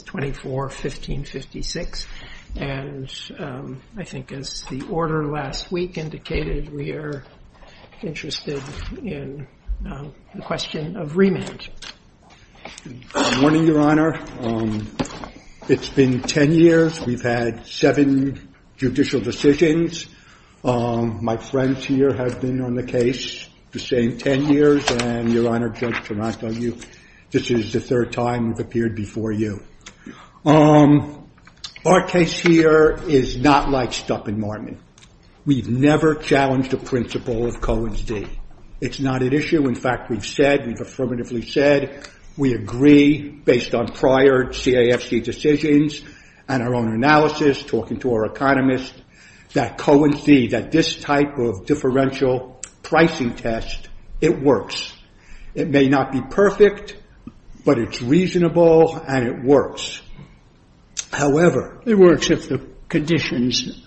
24-1556, and I think as the order last week indicated, we are interested in the question of remand. Good morning, Your Honor. It's been ten years. We've had seven judicial decisions. My friends here have been on the case the same ten years, and, Your Honor, Judge Taranto, this is the third time we've appeared before you. Our case here is not like Stupp and Martin. We've never challenged the principle of Cohen's D. It's not an issue. In fact, we've said, we've affirmatively said, we agree, based on prior CAFC decisions and our own analysis, talking to our economists, that Cohen's D, that this type of differential pricing test, it works. It may not be perfect, but it's reasonable, and it works. However- It works if the conditions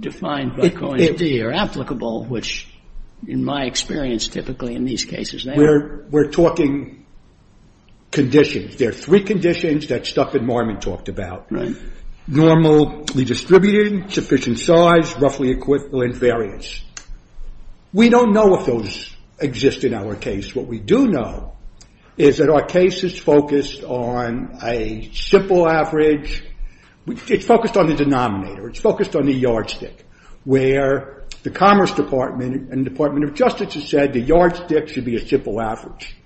defined by Cohen's D are applicable, which, in my experience, typically in these cases, they are. We're talking conditions. There are three conditions that Stupp and Martin talked about. Normal redistributing, sufficient size, roughly equivalent variance. We don't know if those exist in our case. What we do know is that our case is focused on a simple average. It's focused on the denominator. It's focused on the yardstick, where the Commerce Department and Department of Justice have said the yardstick should be a simple average.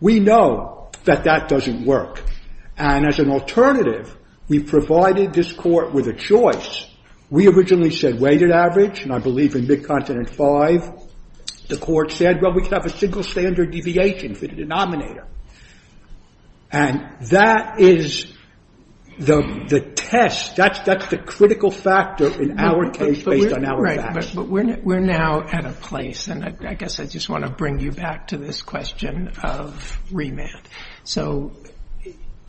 We know that that doesn't work. And as an alternative, we've provided this court with a choice. We originally said weighted average, and I believe in Mid-Continent V, the court said, well, we can have a single standard deviation for the denominator. And that is the test. That's the critical factor in our case, based on our facts. Right. But we're now at a place, and I guess I just want to bring you back to this question of remand. So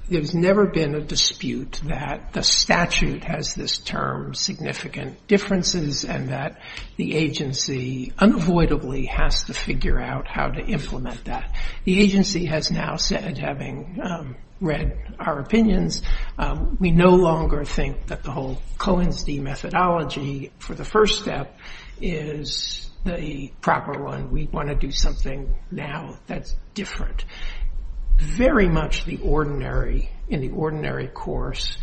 there's never been a dispute that the statute has this term, significant differences, and that the agency unavoidably has to figure out how to implement that. The agency has now said, having read our opinions, we no longer think that the whole Cohen's D methodology for the first step is the proper one. We want to do something now that's different. Very much in the ordinary course,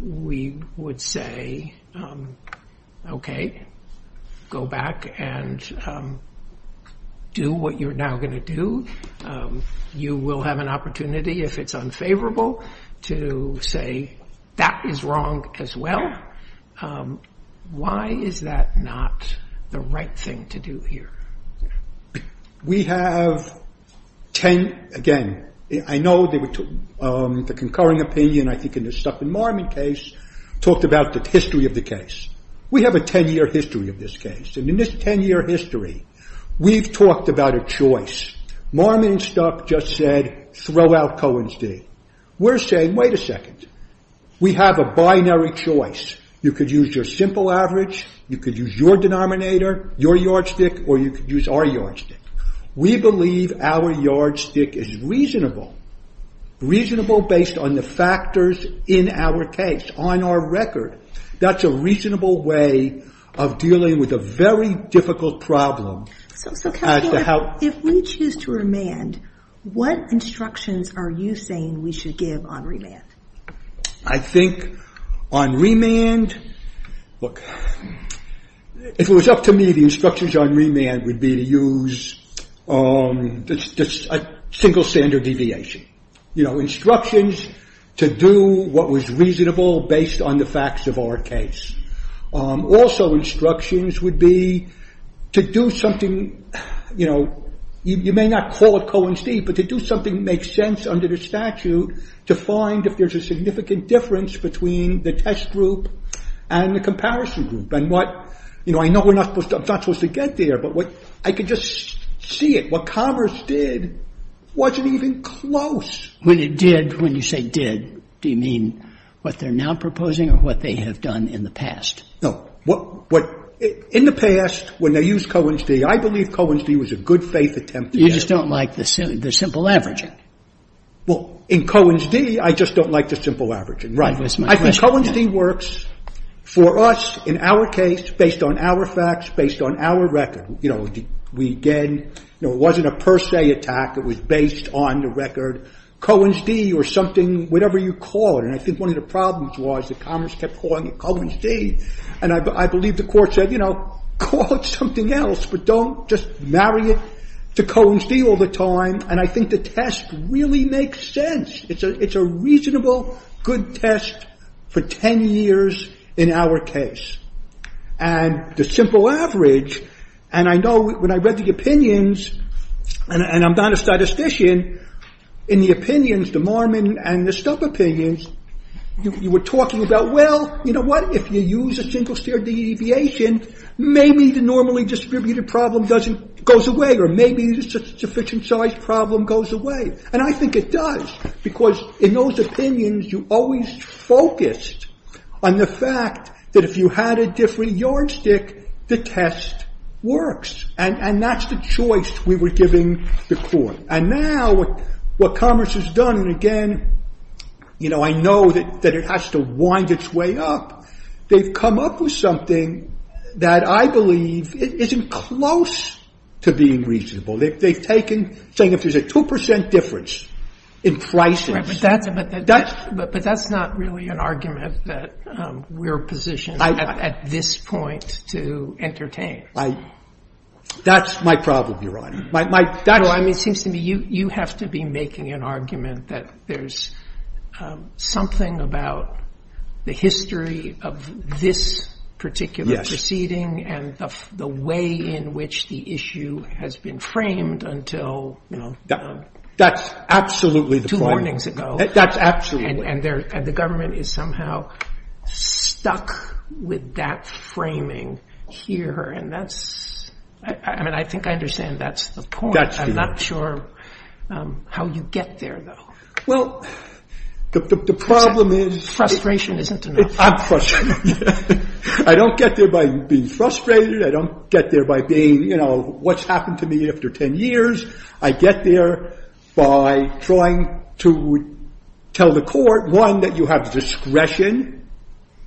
we would say, okay, go back and do what you're now going to do. You will have an opportunity, if it's unfavorable, to say that is wrong as well. Why is that not the right thing to do here? We have ten, again, I know the concurring opinion, I think in the Stuck in Marmon case, talked about the history of the case. We have a ten year history of this case. In this ten year history, we've talked about a choice. Marmon and Stuck just said, throw out Cohen's D. We're saying, wait a second, we have a binary choice. You could use your simple average, you could use your denominator, your yardstick, or you could use our yardstick. We believe our yardstick is reasonable. Reasonable based on the factors in our case, on our record. That's a reasonable way of dealing with a very difficult problem. If we choose to remand, what instructions are you saying we should give on remand? I think on remand, if it was up to me, the instructions on remand would be to use a single standard deviation. Instructions to do what was reasonable based on the facts of our case. Also, instructions would be to do something, you may not call it Cohen's D, but to do something that makes sense under the statute to find if there's a significant difference between the test group and the comparison group. I know I'm not supposed to get there, but I could just see it. What Converse did wasn't even close. When you say did, do you mean what they're now proposing or what they have done in the past? No. In the past, when they used Cohen's D, I believe Cohen's D was a good faith attempt. You just don't like the simple averaging. Well, in Cohen's D, I just don't like the simple averaging. Right. I think Cohen's D works for us in our case, based on our facts, based on our record. It wasn't a per se attack. It was based on the record. Cohen's D or something, whatever you call it. And I think one of the problems was that Converse kept calling it Cohen's D. And I believe the court said, call it something else, but don't just marry it to Cohen's D all the time. And I think the test really makes sense. It's a reasonable, good test for 10 years in our case. And the simple average, and I know when I read the opinions, and I'm not a statistician, in the opinions, the Marmon and the Stubb opinions, you were talking about, well, you know what? If you use a single-stare deviation, maybe the normally distributed problem goes away, or maybe the sufficient-sized problem goes away. And I think it does, because in those opinions, you always focused on the fact that if you had a different yardstick, the test works. And that's the choice we were giving the court. And now, what Converse has done, and again, I know that it has to wind its way up, they've come up with something that I believe isn't close to being reasonable. They've taken, saying if there's a 2% difference in prices... Right, but that's not really an argument that we're positioned at this point to entertain. That's my problem, Your Honor. No, I mean, it seems to me you have to be making an argument that there's something about the history of this particular proceeding, and the way in which the issue has been framed until, you know... That's absolutely the point. Two mornings ago. That's absolutely... And the government is somehow stuck with that framing here, and that's... I mean, I think I understand that's the point. I'm not sure how you get there, though. Well, the problem is... Frustration isn't enough. I'm frustrated. I don't get there by being frustrated. I don't get there by being, you know, what's happened to me after 10 years. I get there by trying to tell the court, one, that you have discretion.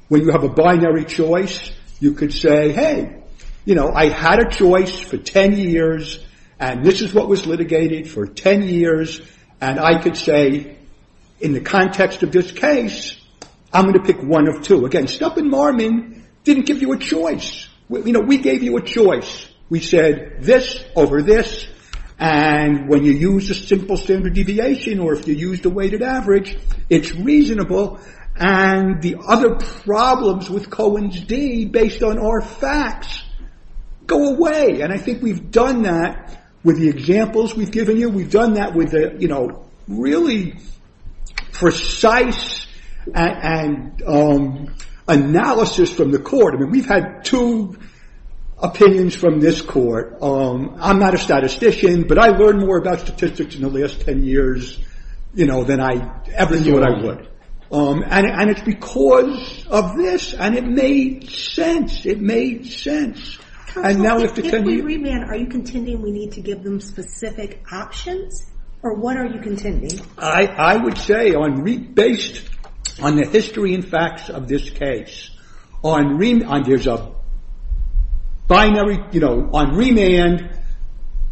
When you have a binary choice, you could say, hey, you know, I had a choice for 10 years, and this is what was litigated for 10 years, and I could say, in the context of this case, I'm going to pick one of two. Again, Stump and Marmon didn't give you a choice. You know, we gave you a choice. We said this over this, and when you use a simple standard deviation, or if you used a weighted average, it's reasonable, and the other problems with Cohen's d, based on our facts, go away. And I think we've done that with the examples we've given you. We've done that with, you know, really precise analysis from the court. I mean, we've had two opinions from this court. I'm not a statistician, but I learned more about statistics in the last 10 years, you know, than I ever knew what I would. And it's because of this, and it made sense. If we remand, are you contending we need to give them specific options? Or what are you contending? I would say, based on the history and facts of this case, on remand,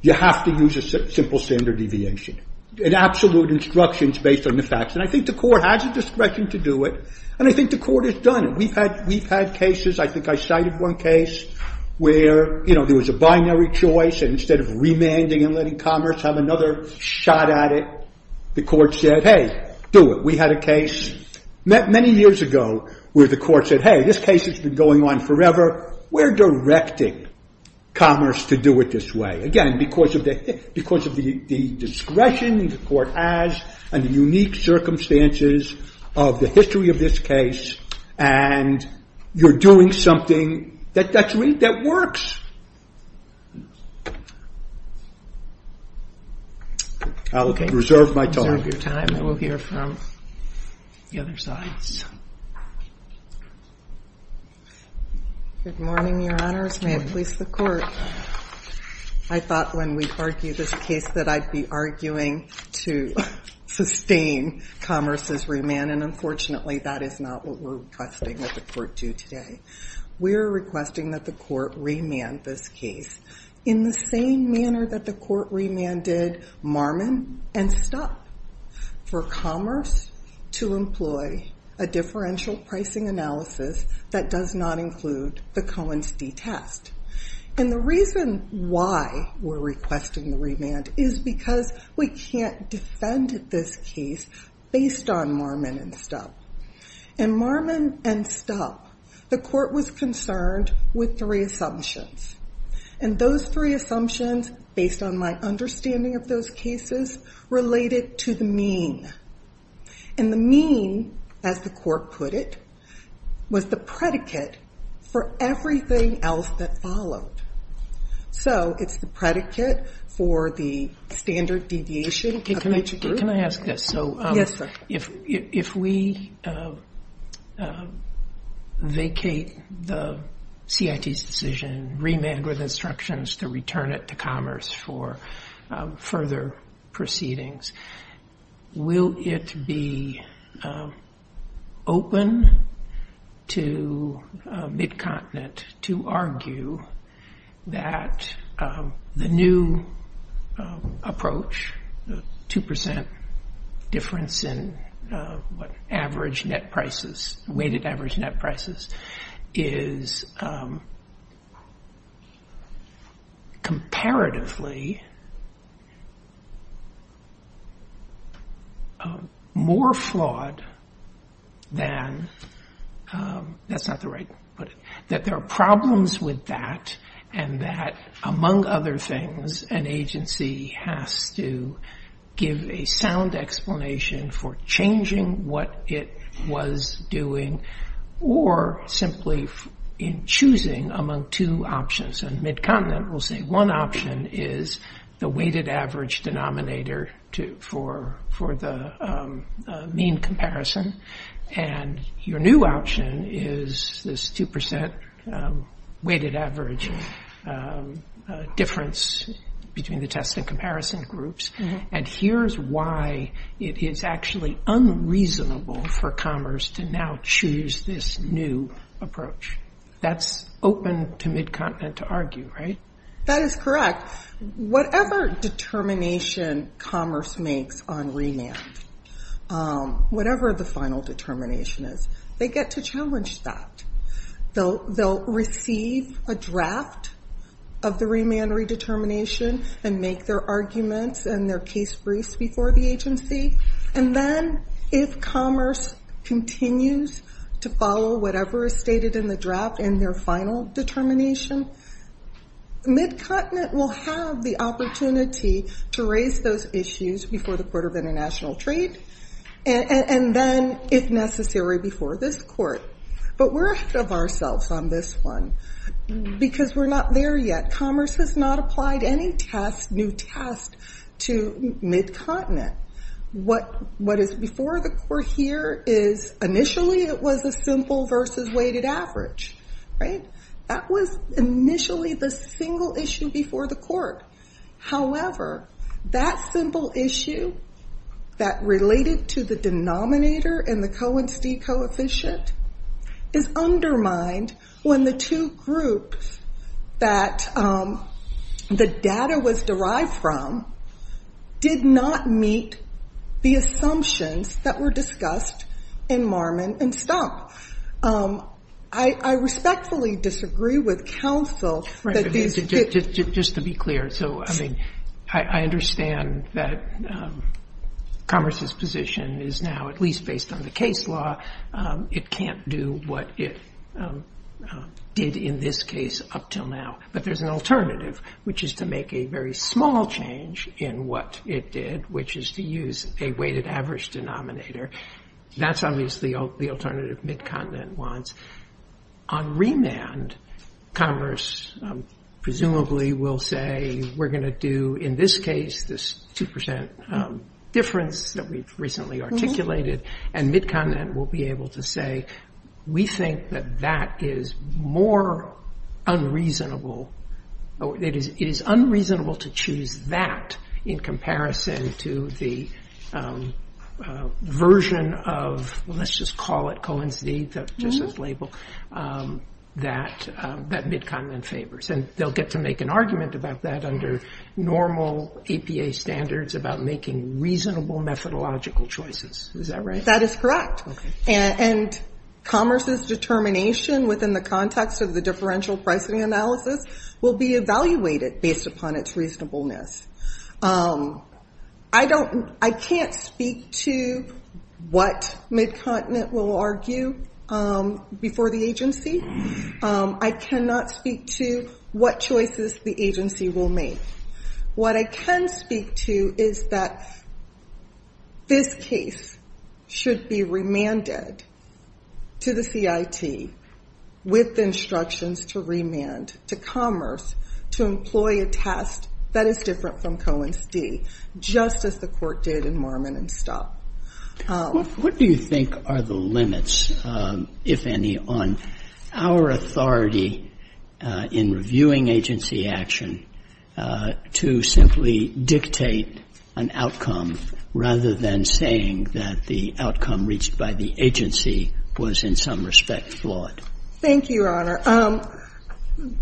you have to use a simple standard deviation. And absolute instructions based on the facts. And I think the court has a discretion to do it, and I think the court has done it. We've had cases, I think I cited one case, where, you know, there was a binary choice, and instead of remanding and letting Commerce have another shot at it, the court said, hey, do it. We had a case many years ago where the court said, hey, this case has been going on forever. We're directing Commerce to do it this way. Again, because of the discretion the court has, and the unique circumstances of the history of this case, and you're doing something that works. I'll reserve my time. Okay, reserve your time. We'll hear from the other sides. Good morning, your honors. May it please the court. I thought when we argued this case, that I'd be arguing to sustain Commerce's remand, and unfortunately that is not what we're requesting that the court do today. We're requesting that the court remand this case in the same manner that the court remanded Marmon and Stuck. For Commerce to employ a differential pricing analysis that does not include the Cohen-Stee test. And the reason why we're requesting the remand is because we can't defend this case based on Marmon and Stuck. In Marmon and Stuck, the court was concerned with three assumptions. And those three assumptions, based on my understanding of those cases, related to the mean. And the mean, as the court put it, was the predicate for everything else that followed. So it's the predicate for the standard deviation. Can I ask this? Yes, sir. If we vacate the CIT's decision, remand with instructions to return it to Commerce for further proceedings, will it be open to MidContinent to argue that the new approach, the 2% difference in weighted average net prices, is comparatively more flawed than... That's not the right way to put it. That there are problems with that and that, among other things, an agency has to give a sound explanation for changing what it was doing or simply in choosing among two options. And MidContinent will say one option is the weighted average denominator for the mean comparison and your new option is this 2% weighted average difference between the test and comparison groups. And here's why it is actually unreasonable for Commerce to now choose this new approach. That's open to MidContinent to argue, right? That is correct. Whatever determination Commerce makes on remand, whatever the final determination is, they get to challenge that. They'll receive a draft of the remand redetermination and make their arguments and their case briefs before the agency and then, if Commerce continues to follow whatever is stated in the draft in their final determination, MidContinent will have the opportunity to raise those issues before the Court of International Trade and then, if necessary, before this Court. But we're ahead of ourselves on this one because we're not there yet. Commerce has not applied any new test to MidContinent. What is before the Court here is, initially, it was a simple versus weighted average, right? That was initially the single issue before the Court. However, that simple issue that related to the denominator and the Cohen-Stee coefficient is undermined when the two groups that the data was derived from did not meet the assumptions that were discussed in Marmon and Stump. I respectfully disagree with counsel that these... Right. Just to be clear. So, I mean, I understand that Commerce's position is now, at least based on the case law, it can't do what it did in this case up till now. But there's an alternative, which is to make a very small change in what it did, which is to use a weighted average denominator. That's obviously the alternative MidContinent wants. On remand, Commerce presumably will say, we're going to do in this case this 2% difference that we've recently articulated and MidContinent will be able to say, we think that that is more unreasonable. It is unreasonable to choose that in comparison to the version of, let's just call it Cohen-Stee, just as label, that MidContinent favors. And they'll get to make an argument about that under normal APA standards about making reasonable methodological choices. Is that right? That is correct. And Commerce's determination within the context of the differential pricing analysis will be evaluated based upon its reasonableness. I can't speak to what MidContinent will argue before the agency. I cannot speak to what choices the agency will make. What I can speak to is that this case should be remanded to the CIT with instructions to remand to Commerce to employ a test that is different from Cohen-Stee just as the court did in Marmon and Stott. What do you think are the limits, if any, on our authority in reviewing agency action to simply dictate an outcome rather than saying that the outcome reached by the agency was in some respect flawed? Thank you, Your Honor.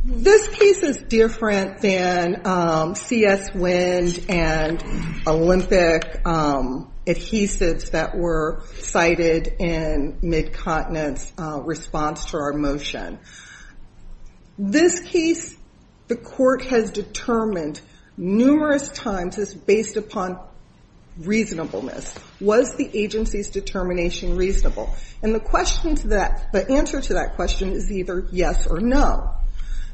This case is different than CS Wind and Olympic adhesives that were cited in MidContinent's response to our motion. This case, the court has determined numerous times it's based upon reasonableness. Was the agency's determination reasonable? And the answer to that question is either yes or no.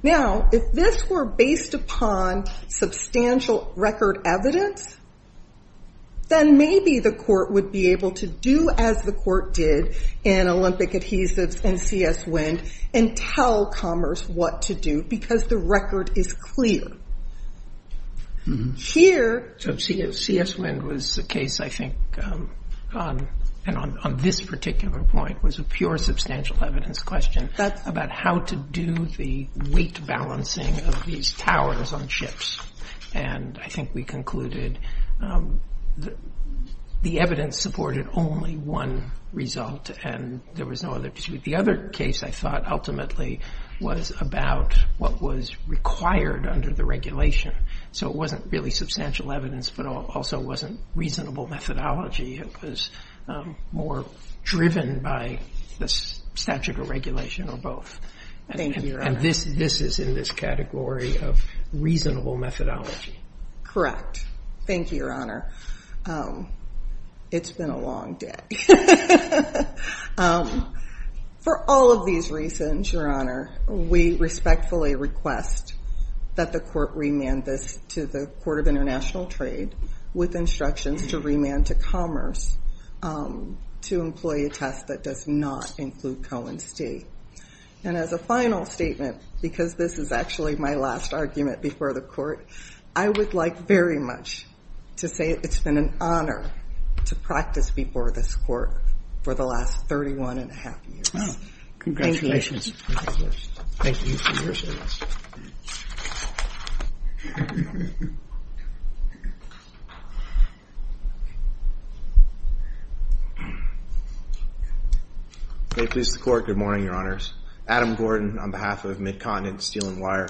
Now, if this were based upon substantial record evidence, then maybe the court would be able to do as the court did in Olympic adhesives and CS Wind and tell Commerce what to do because the record is clear. Here... So CS Wind was a case, I think, and on this particular point, was a pure substantial evidence question about how to do the weight balancing of these towers on ships. And I think we concluded the evidence supported only one result and there was no other dispute. The other case, I thought, ultimately was about what was required under the regulation. So it wasn't really substantial evidence but also wasn't reasonable methodology. It was more driven by the statute of regulation or both. Thank you, Your Honor. And this is in this category of reasonable methodology. Correct. Thank you, Your Honor. It's been a long day. For all of these reasons, Your Honor, we respectfully request that the court remand this to the Court of International Trade with instructions to remand to Commerce to employ a test that does not include Cohen State. And as a final statement, because this is actually my last argument before the court, I would like very much to say it's been an honor to practice before this Court for the last 31 1⁄2 years. Congratulations. Thank you. May it please the Court. Good morning, Your Honors. Adam Gordon on behalf of Midcontinent Steel & Wire.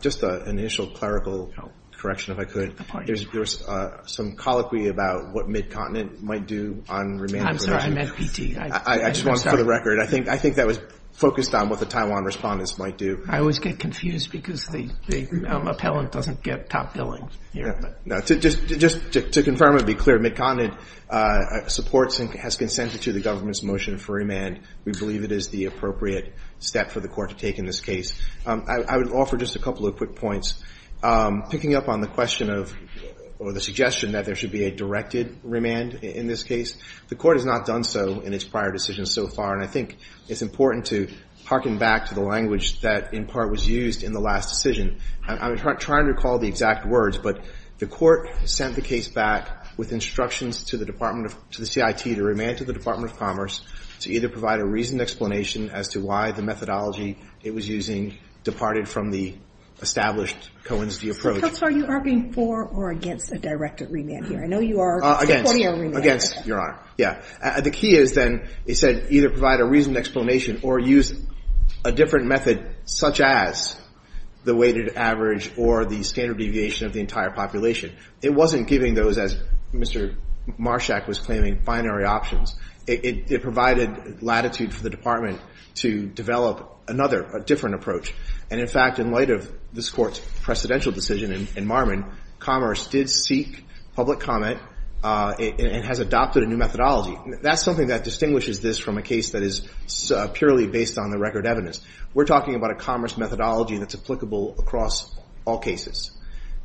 Just an initial clerical correction, if I could. There was some colloquy about what Midcontinent might do on remand. I'm sorry, I meant PT. I just wanted for the record. I think that was focused on what the Taiwan respondents might do. I always get confused because the appellant doesn't get top billing here. No. Just to confirm and be clear, Midcontinent supports and has consented to the government's motion for remand. We believe it is the appropriate step for the court to take in this case. I would offer just a couple of quick points. Picking up on the question of or the suggestion that there should be a directed remand in this case, the court has not done so in its prior decisions so far. I think it's important to harken back to the language that in part was used in the last decision. I'm trying to recall the exact words, but the court sent the case back with instructions to the CIT to remand it to the Department of Commerce to either provide a reasoned explanation as to why the methodology it was using departed from the established Cohen's D approach. So are you arguing for or against a directed remand here? I know you are supporting a remand. Against, Your Honor. The key is then, it said, either provide a reasoned explanation or use a different method such as the weighted average or the standard deviation of the entire population. It wasn't giving those, as Mr. Marshak was claiming, binary options. It provided latitude for the Department to develop another, a different approach. And in fact, in light of this Court's precedential decision in Marmon, Commerce did seek public comment and has adopted a new methodology. That's something that distinguishes this from a case that is purely based on the record evidence. We're talking about a commerce methodology that's applicable across all cases.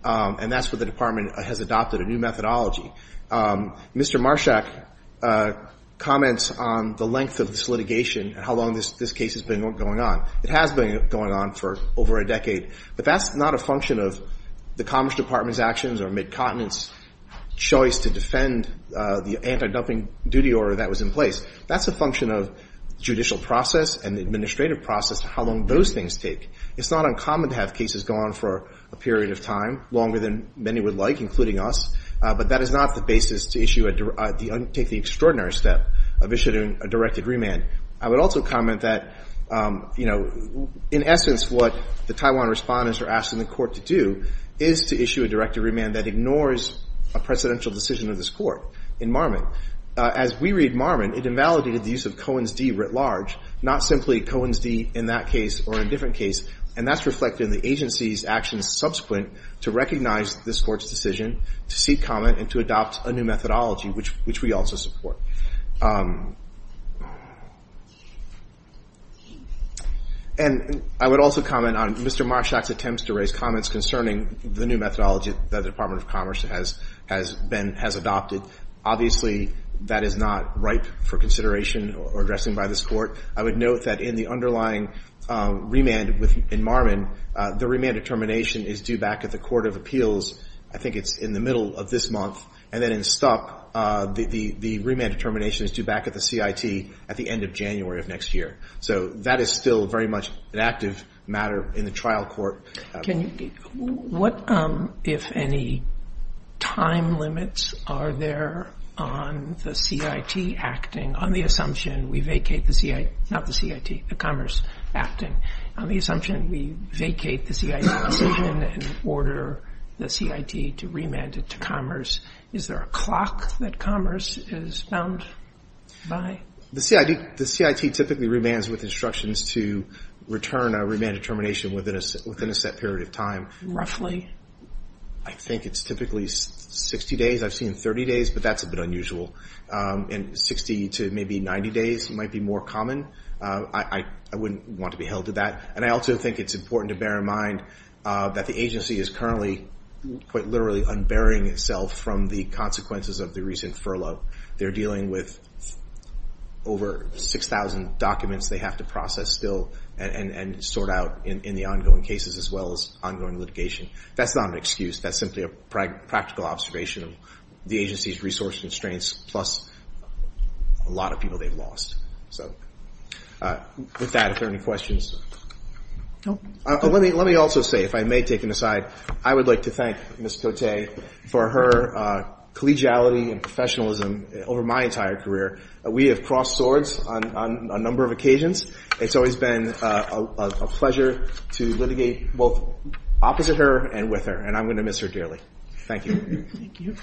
And that's where the Department has adopted a new methodology. Mr. Marshak comments on the length of this litigation and how long this case has been going on. It has been going on for over a decade. But that's not a function of the Commerce Department's actions or Mid-Continent's choice to defend the anti-dumping duty order that was in place. That's a function of judicial process and the administrative process, how long those things take. It's not uncommon to have cases go on for a period of time, longer than many would like, including us. But that is not the basis to take the extraordinary step of issuing a directed remand. I would also comment that in essence what the Taiwan respondents are asking the court to do is to issue a directed remand that ignores a presidential decision of this court in Marmon. As we read Marmon, it invalidated the use of Cohen's D writ large, not simply Cohen's D in that case or in a different case. And that's reflected in the agency's actions subsequent to recognize this court's decision to seek comment and to adopt a new methodology which we also support. And I would also comment on Mr. Marshak's attempts to raise comments concerning the new methodology that the Department of Commerce has adopted. Obviously, that is not ripe for consideration or addressing by this court. I would note that in the underlying remand in Marmon, the remand determination is due back at the Court of Appeals. I think it's in the middle of this month. And then in Stuck, the remand determination is due back at the CIT at the end of January of next year. So that is still very much an active matter in the trial court. What, if any, time limits are there on the CIT acting on the assumption we vacate the CIT, not the CIT, the Commerce acting on the assumption we vacate the CIT decision and order the CIT to remand it to Commerce. Is there a clock that Commerce is bound by? The CIT typically remands with instructions to return a remand determination within a set period of time. Roughly? I think it's typically 60 days. I've seen 30 days, but that's a bit unusual. And 60 to maybe 90 days might be more common. I wouldn't want to be held to that. And I also think it's important to bear in mind that the agency is currently, quite literally, unbearing itself from the consequences of the recent furlough. They're dealing with over 6,000 documents they have to process still and sort out in the ongoing cases as well as ongoing litigation. That's not an excuse. That's simply a practical observation of the agency's resources and strengths plus a lot of people they've lost. With that, are there any questions? Let me also say, if I may take an aside, I would like to thank Ms. Cote for her collegiality and professionalism over my entire career. We have crossed swords on a number of occasions. It's always been a pleasure to litigate both opposite her and with her, and I'm going to miss her dearly. Thank you.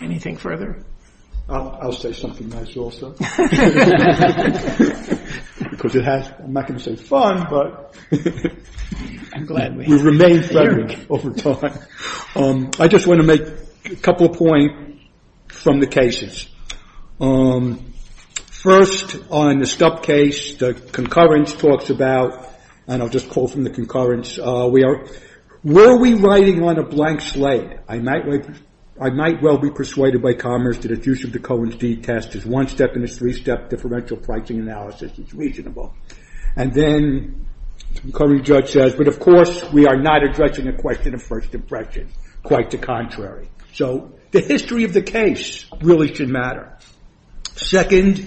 Anything further? I'll say something nice also. I'm not going to say it's fun, but we've remained friendly over time. I just want to make a couple of points from the cases. First, on the Stub case, the concurrence talks about and I'll just call from the concurrence, were we riding on a blank slate? I might well be persuaded by Commerce that its use of the Cohen's deed test is one step in a three step differential pricing analysis. It's reasonable. And then, the judge says, but of course, we are not addressing the question of first impression quite the contrary. The history of the case really should matter. Second,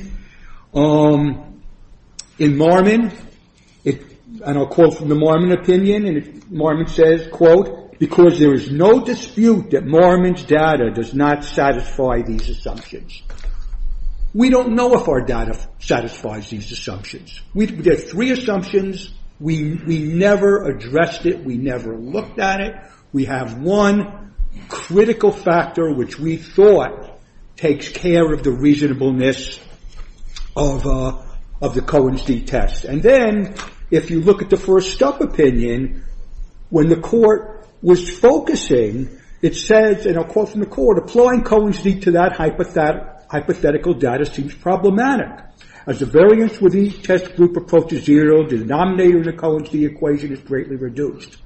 in Marmon, and I'll quote from the Marmon opinion, Marmon says, because there is no dispute that Marmon's data does not satisfy these assumptions. We don't know if our data satisfies these assumptions. There are three assumptions. We never addressed it. We never looked at it. We have one critical factor which we thought takes care of the reasonableness of the Cohen's deed test. And then, if you look at the first Stub opinion, when the court was focusing, it says, and I'll quote from the court, applying Cohen's deed to that hypothetical data seems problematic. As the variance with each test group approaches zero, the denominator in the Cohen's deed equation is greatly reduced.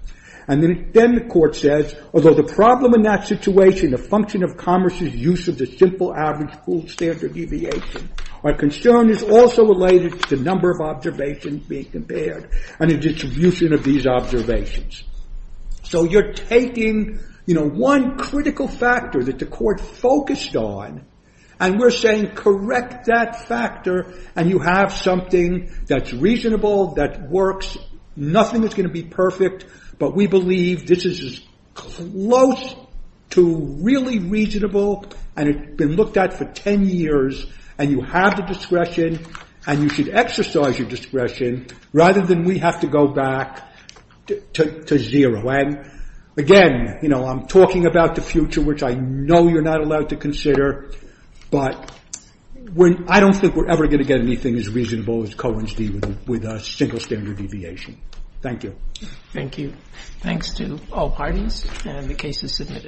And then the court says, although the problem in that situation, the function of Commerce's use of the simple average pooled standard deviation, our concern is also related to the number of observations being compared and the distribution of these observations. So you're taking one critical factor that the court focused on, and we're saying, correct that factor, and you have something that's reasonable, that works. Nothing is going to be perfect, but we believe this is close to really reasonable, and it's been looked at for 10 years, and you have the discretion, and you should exercise your discretion rather than we have to go back to zero. Again, I'm talking about the future, which I know you're not allowed to consider, but I don't think we're ever going to get anything as reasonable as Cohen's deed with a single standard deviation. Thank you. Thank you. Thanks to all parties, and the case is submitted.